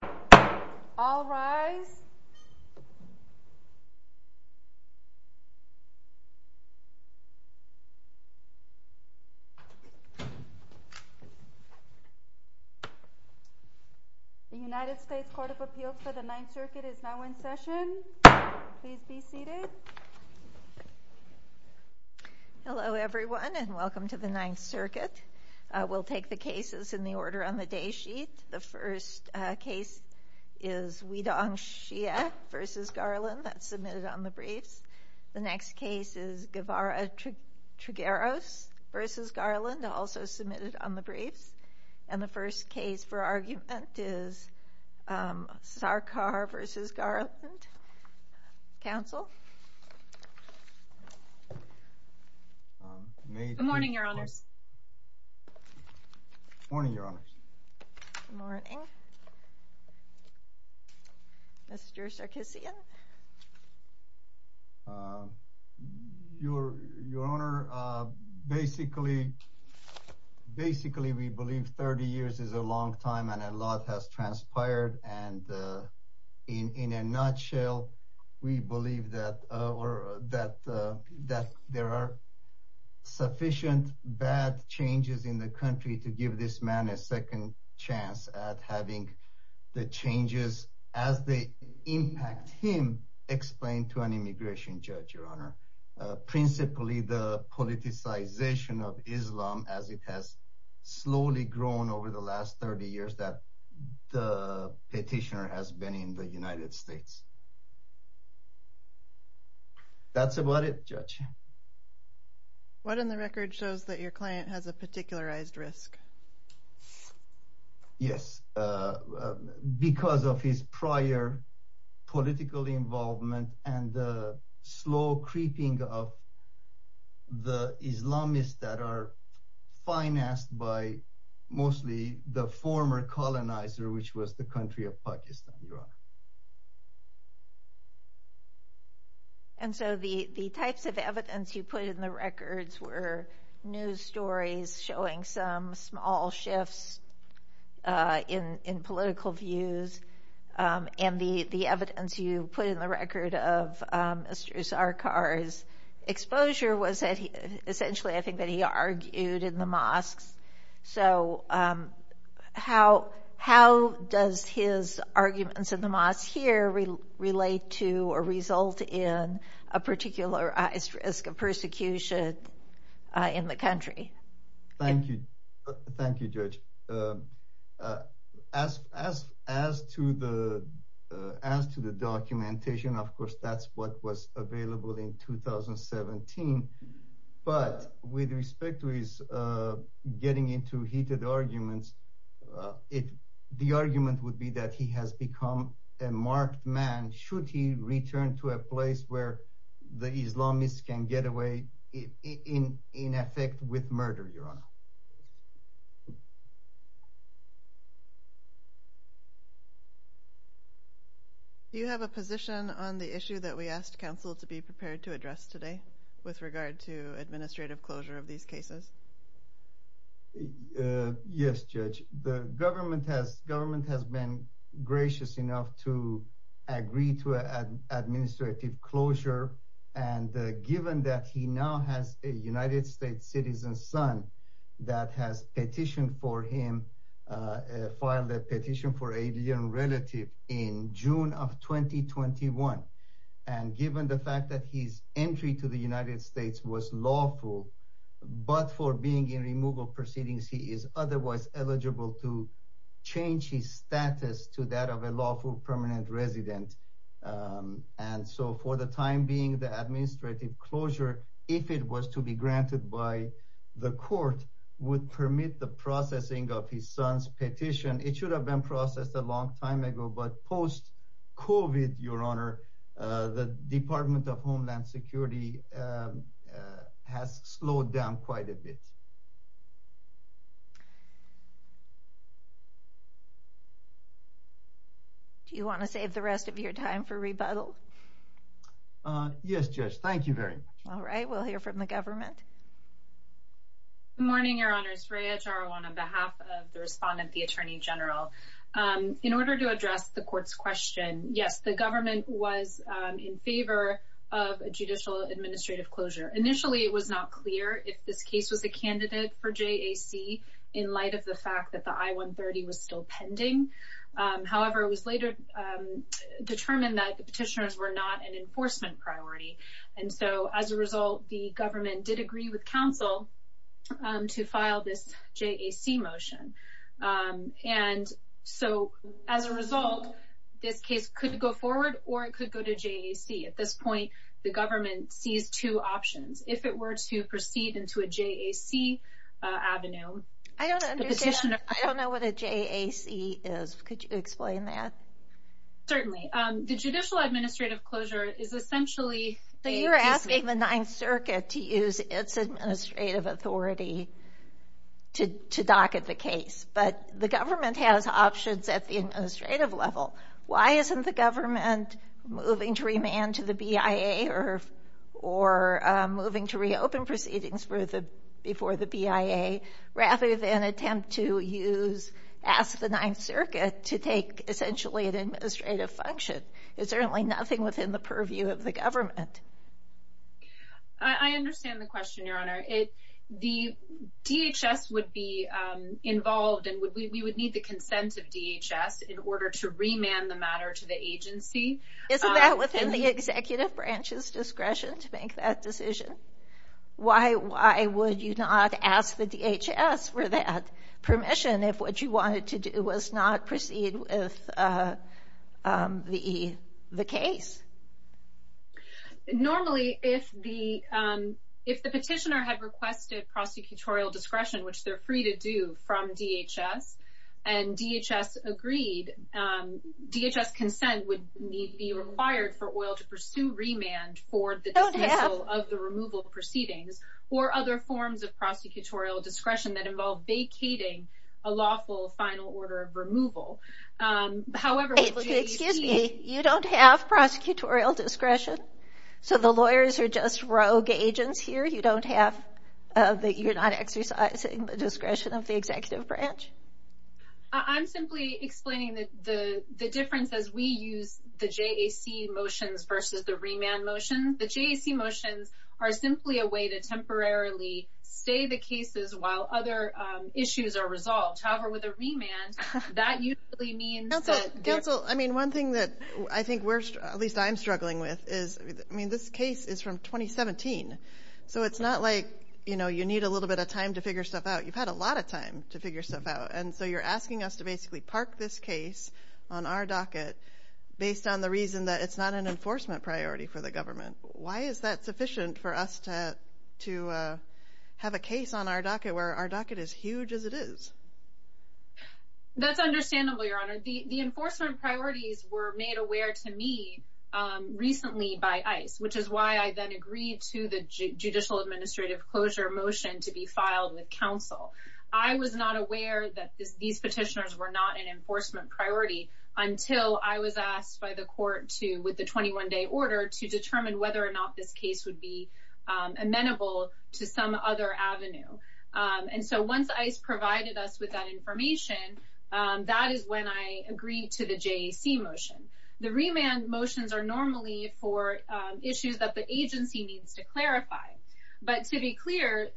The United States Court of Appeals for the Ninth Circuit is now in session. Please be seated. Hello everyone and welcome to the Ninth Circuit. We'll take the cases in the order on the day sheet. The first case is Weidong Xie v. Garland, that's submitted on the briefs. The next case is Guevara Trigueros v. Garland, also submitted on the briefs. And the first case for argument is Sarkar v. Garland. Counsel? Good morning, Your Honors. Morning, Your Honors. Good morning, Mr. Sarkisian. Your Honor, basically, we believe 30 years is a long time and a lot has transpired. And in a nutshell, we believe that there are sufficient bad changes in the country to give this man a second chance at having the changes as they impact him explained to an immigration judge, Your Honor, principally the politicization of Islam as it has slowly grown over the last 30 years that the petitioner has been in the United States. That's about it, Judge. What in the record shows that your client has a particularized risk? Yes, because of his prior political involvement and the slow creeping of the Islamists that are financed by mostly the former colonizer, which was the country of Pakistan, Your Honor. And so the types of evidence you put in the records were news stories showing some small shifts in political views. And the evidence you put in the record of Mr. Sarkar's exposure was essentially, I think, that he argued in the mosques. So how does his arguments in the mosques here relate to or result in a particularized risk of the country? Thank you. Thank you, Judge. As to the documentation, of course, that's what was available in 2017. But with respect to his getting into heated arguments, the argument would be that he has become a marked man should he return to a place where the Islamists can get away in effect with murder, Your Honor. Do you have a position on the issue that we asked counsel to be prepared to address today with regard to administrative closure of these cases? Yes, Judge. The government has been gracious enough to agree to an administrative closure. And given that he now has a United States citizen son that has petitioned for him, filed a petition for alien relative in June of 2021. And given the fact that his entry to the United States was lawful, but for being in removal proceedings, he is otherwise eligible to change his status to that of a lawful permanent resident. And so for the time being, the administrative closure, if it was to be granted by the court, would permit the processing of his son's petition. It should have been processed a long time ago. But post COVID, Your Honor, the Department of Homeland Security has slowed down quite a bit. Do you want to save the rest of your time for rebuttal? Yes, Judge. Thank you very much. All right. We'll hear from the government. Good morning, Your Honors. Raya Jarawan on behalf of the respondent, the Attorney General. In order to address the court's question, yes, the government was in favor of a judicial administrative closure. Initially, it was not clear if this case was a candidate for JAC in light of the fact that the I-130 was still pending. However, it was later determined that the petitioners were not an enforcement priority. And so as a result, the government did agree with counsel to file this JAC motion. And so as a result, this case could go forward or it could go to JAC. At this point, the government sees two options. If it were to proceed into a JAC avenue... I don't know what a JAC is. Could you explain that? Certainly. The judicial administrative closure is essentially... ...asking the Ninth Circuit to use its administrative authority to docket the case. But the government has options at the administrative level. Why isn't the government moving to remand to the BIA or moving to reopen proceedings before the BIA rather than attempt to use...ask the Ninth Circuit to take essentially an administrative function? I understand the question, Your Honor. The DHS would be involved and we would need the consent of DHS in order to remand the matter to the agency. Isn't that within the executive branch's discretion to make that decision? Why would you not ask the DHS for that permission if what you wanted to do was not proceed with the case? Normally, if the petitioner had requested prosecutorial discretion, which they're free to do from DHS, and DHS agreed, DHS consent would be required for oil to pursue remand for the dismissal of the removal proceedings or other forms of prosecutorial discretion that involve vacating a lawful final order of removal. However, with JAC... You don't have prosecutorial discretion? So the lawyers are just rogue agents here? You don't have...you're not exercising the discretion of the executive branch? I'm simply explaining the difference as we use the JAC motions versus the remand motions. The JAC motions are simply a way to temporarily stay the cases while other issues are resolved. However, with a remand, that usually means that... One thing that I think we're, at least I'm struggling with, is this case is from 2017. So it's not like you need a little bit of time to figure stuff out. You've had a lot of time to figure stuff out. And so you're asking us to basically park this case on our docket based on the reason that it's not an enforcement priority for the government. Why is that sufficient for us to have a case on our docket where our docket is huge as it is? That's understandable, Your Honor. The enforcement priorities were made aware to me recently by ICE, which is why I then agreed to the judicial administrative closure motion to be filed with counsel. I was not aware that these petitioners were not an enforcement priority until I was asked by the court to, with the 21-day order, to determine whether or not this case would be amenable to some other avenue. And so once ICE provided us with that information, that is when I agreed to the JAC motion. The remand motions are normally for issues that the agency needs to clarify. But to be clear,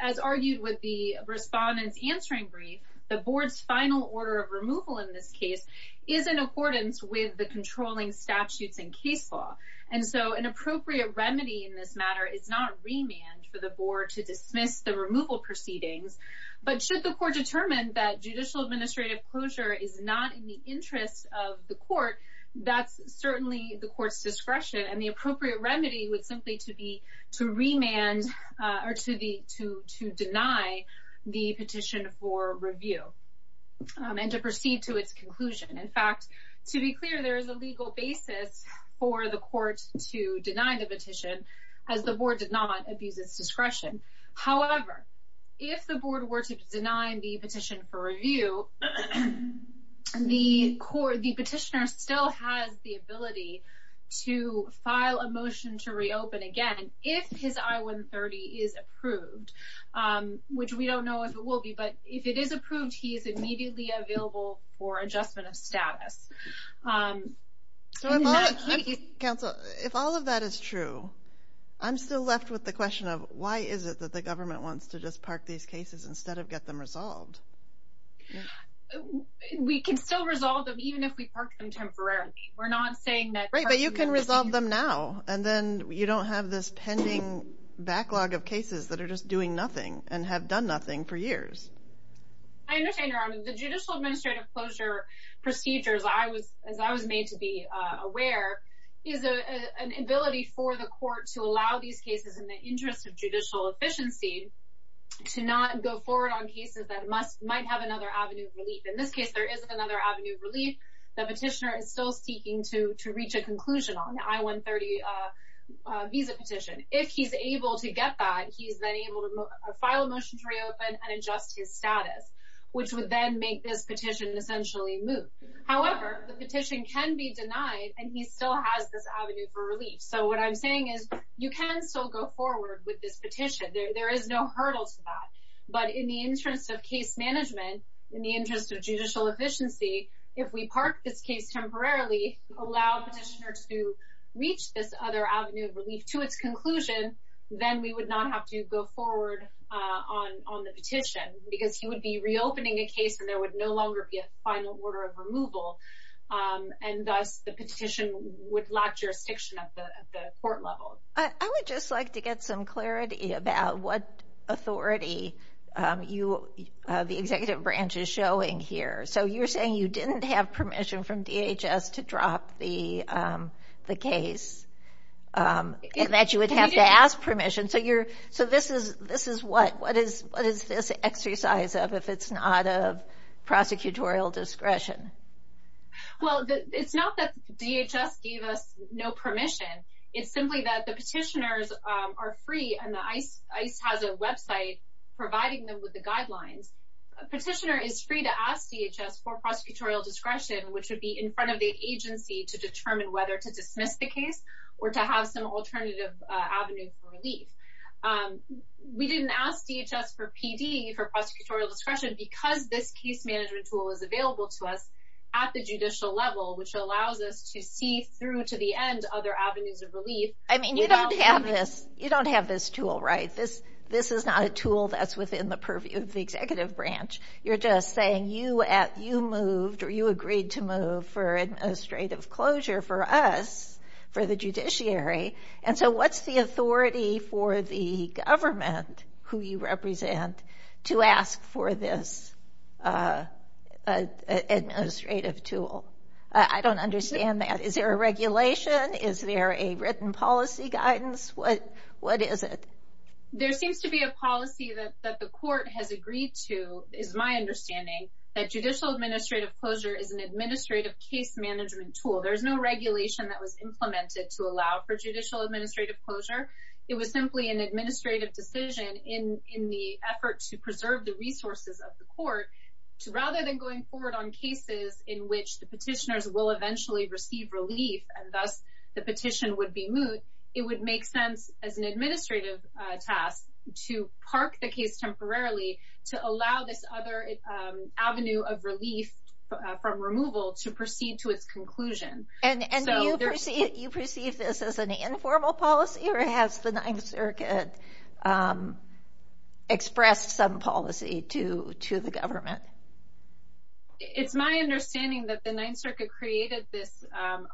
as argued with the respondent's answering brief, the board's final order of removal in this case is in accordance with the controlling statutes and case law. And so an appropriate remedy in this matter is not remand for the board to dismiss the removal proceedings, but should the court determine that judicial administrative closure is not in the interest of the court, that's certainly the court's discretion. And the appropriate remedy would simply to be to remand or to deny the petition for review and to proceed to its conclusion. In fact, to be clear, there is a legal basis for the court to deny the petition as the board did not abuse its discretion. However, if the board were to deny the petition for review, the petitioner still has the ability to file a motion to reopen again if his I-130 is approved, which we don't know if it will be. But if it is approved, he is immediately available for adjustment of status. So if all of that is true, I'm still left with the question of why is it that the government wants to just park these cases instead of get them resolved? We can still resolve them even if we park them temporarily. We're not saying that... Right, but you can resolve them now. And then you don't have this pending backlog of cases that are just doing nothing and have done nothing for years. I understand, Your Honor. The judicial administrative closure procedures, as I was made to be aware, is an ability for the court to allow these cases in the interest of judicial efficiency to not go forward on cases that might have another avenue of relief. In this case, there is another avenue of relief. The petitioner is still seeking to reach a conclusion on the I-130 visa petition. If he's able to get that, he's then able to file a motion to reopen and adjust his status, which would then make this petition essentially move. However, the petition can be denied and he still has this avenue for relief. So what I'm saying is you can still go forward with this petition. There is no hurdle to that. But in the interest of case management, in the interest of judicial efficiency, if we park this case temporarily, allow the petitioner to reach this other avenue of relief to its conclusion, then we would not have to go forward on the petition because he would be reopening a case and there would no longer be a final order of removal. And thus, the petition would lack jurisdiction at the court level. I would just like to get some clarity about what authority the executive branch is showing here. So you're saying you didn't have permission from DHS to drop the case and that you would have to ask permission. So this is what? What is this exercise of if it's not of prosecutorial discretion? Well, it's not that DHS gave us no permission. It's simply that the petitioners are free and ICE has a website providing them with the guidelines. Petitioner is free to ask DHS for prosecutorial discretion, which would be in front of the agency to determine whether to dismiss the case or to have some alternative avenue for relief. And we didn't ask DHS for PD for prosecutorial discretion because this case management tool is available to us at the judicial level, which allows us to see through to the end other avenues of relief. I mean, you don't have this. You don't have this tool, right? This is not a tool that's within the purview of the executive branch. You're just saying you moved or you agreed to move for administrative closure for us, for the judiciary. And so what's the authority for the government, who you represent, to ask for this administrative tool? I don't understand that. Is there a regulation? Is there a written policy guidance? What is it? There seems to be a policy that the court has agreed to, is my understanding, that judicial administrative closure is an administrative case management tool. There's no regulation that was implemented to allow for judicial administrative closure. It was simply an administrative decision in the effort to preserve the resources of the court. Rather than going forward on cases in which the petitioners will eventually receive relief, and thus the petition would be moved, it would make sense as an administrative task to park the case temporarily to allow this other avenue of relief from removal to proceed to its conclusion. And do you perceive this as an informal policy or has the Ninth Circuit expressed some policy to the government? It's my understanding that the Ninth Circuit created this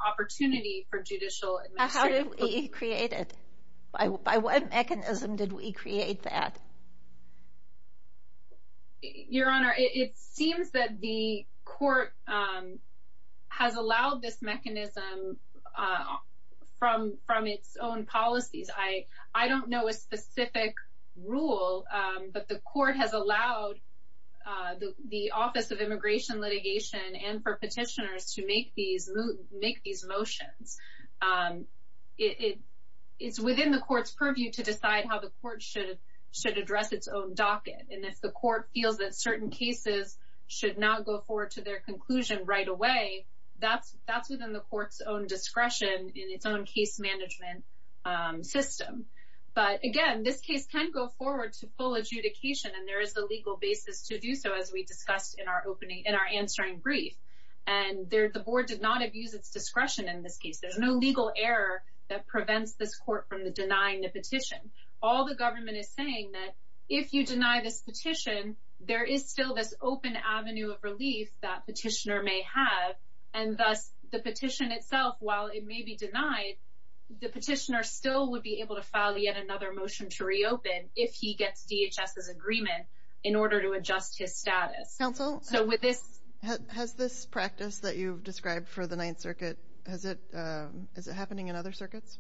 opportunity for judicial administrative closure. How did we create it? By what mechanism did we create that? Your Honor, it seems that the court has allowed this mechanism from its own policies. I don't know a specific rule, but the court has allowed the Office of Immigration Litigation and for petitioners to make these motions. It's within the court's purview to decide how the court should address its own docket. And if the court feels that certain cases should not go forward to their conclusion right away, that's within the court's own discretion in its own case management system. But again, this case can go forward to full adjudication and there is a legal basis to do so as we discussed in our answering brief. And the board did not abuse its discretion in this case. There's no legal error that prevents this court from denying the petition. All the government is saying that if you deny this petition, there is still this open avenue of relief that petitioner may have. And thus the petition itself, while it may be denied, the petitioner still would be able to file yet another motion to reopen if he gets DHS's agreement in order to adjust his status. Counsel, has this practice that you've described for the Ninth Circuit, is it happening in other circuits?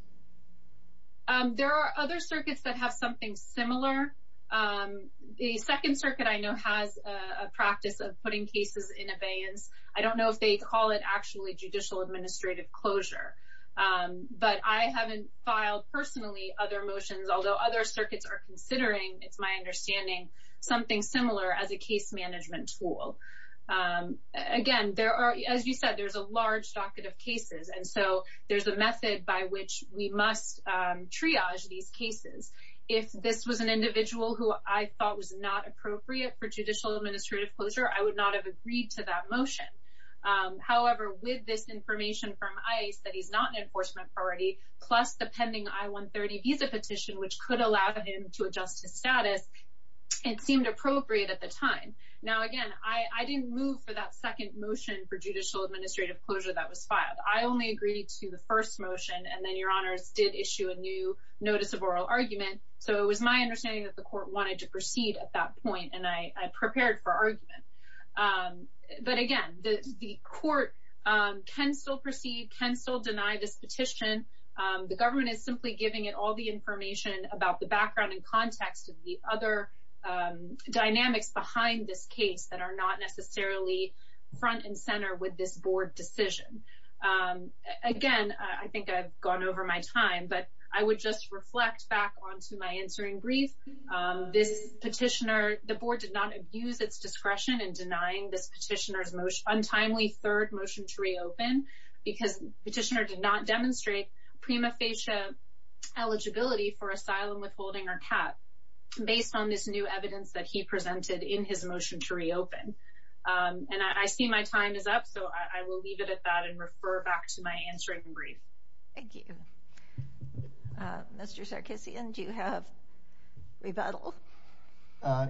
There are other circuits that have something similar. The Second Circuit I know has a practice of putting cases in abeyance. I don't know if they call it actually judicial administrative closure, but I haven't filed personally other motions, although other circuits are considering, it's my understanding, something similar as a case management tool. Again, as you said, there's a large docket of cases. And so there's a method by which we must triage these cases. If this was an individual who I thought was not appropriate for judicial administrative closure, I would not have agreed to that motion. However, with this information from ICE that he's not an enforcement priority, plus the pending I-130 visa petition, which could allow him to adjust his status, it seemed appropriate at the time. Now, again, I didn't move for that second motion for judicial administrative closure that was filed. I only agreed to the first motion and then your honors did issue a new notice of oral argument. So it was my understanding that the court wanted to proceed at that point. And I prepared for argument. But again, the court can still proceed, can still deny this petition. The government is simply giving it all the information about the background and context of the other dynamics behind this case that are not necessarily front and center with this board decision. Again, I think I've gone over my time, but I would just reflect back onto my answering brief. This petitioner, the board did not abuse its discretion in denying this petitioner's untimely third motion to reopen because petitioner did not demonstrate prima facie eligibility for asylum withholding or cap based on this new evidence that he presented in his motion to reopen. And I see my time is up, so I will leave it at that and refer back to my answering brief. Thank you. Mr. Sarkissian, do you have rebuttal?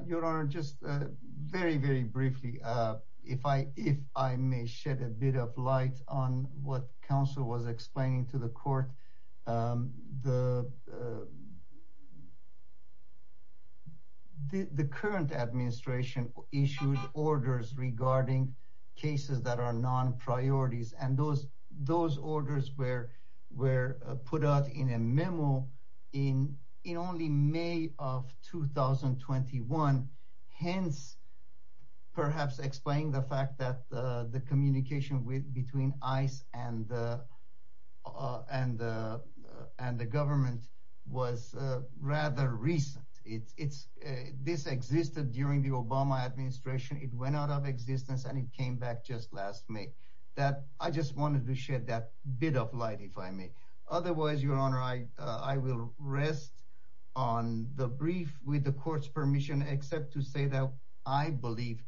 Your Honor, just very, very briefly. If I may shed a bit of light on what counsel was explaining to the court. The current administration issued orders regarding cases that are non-priorities and those orders were put out in a memo in only May of 2021. Hence, perhaps explain the fact that the communication between ICE and the government was rather recent. This existed during the Obama administration. It went out of existence and it came back just last May. I just wanted to shed that bit of light, if I may. Otherwise, Your Honor, I will rest on the brief with the court's permission except to say that I believe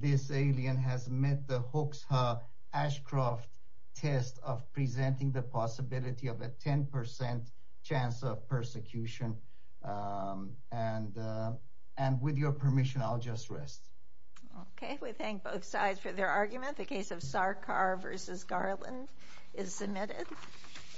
this alien has met the Hoxha Ashcroft test of presenting the possibility of a 10% chance of persecution. And with your permission, I'll just rest. Okay, we thank both sides for their argument. The case of Sarkar v. Garland is submitted.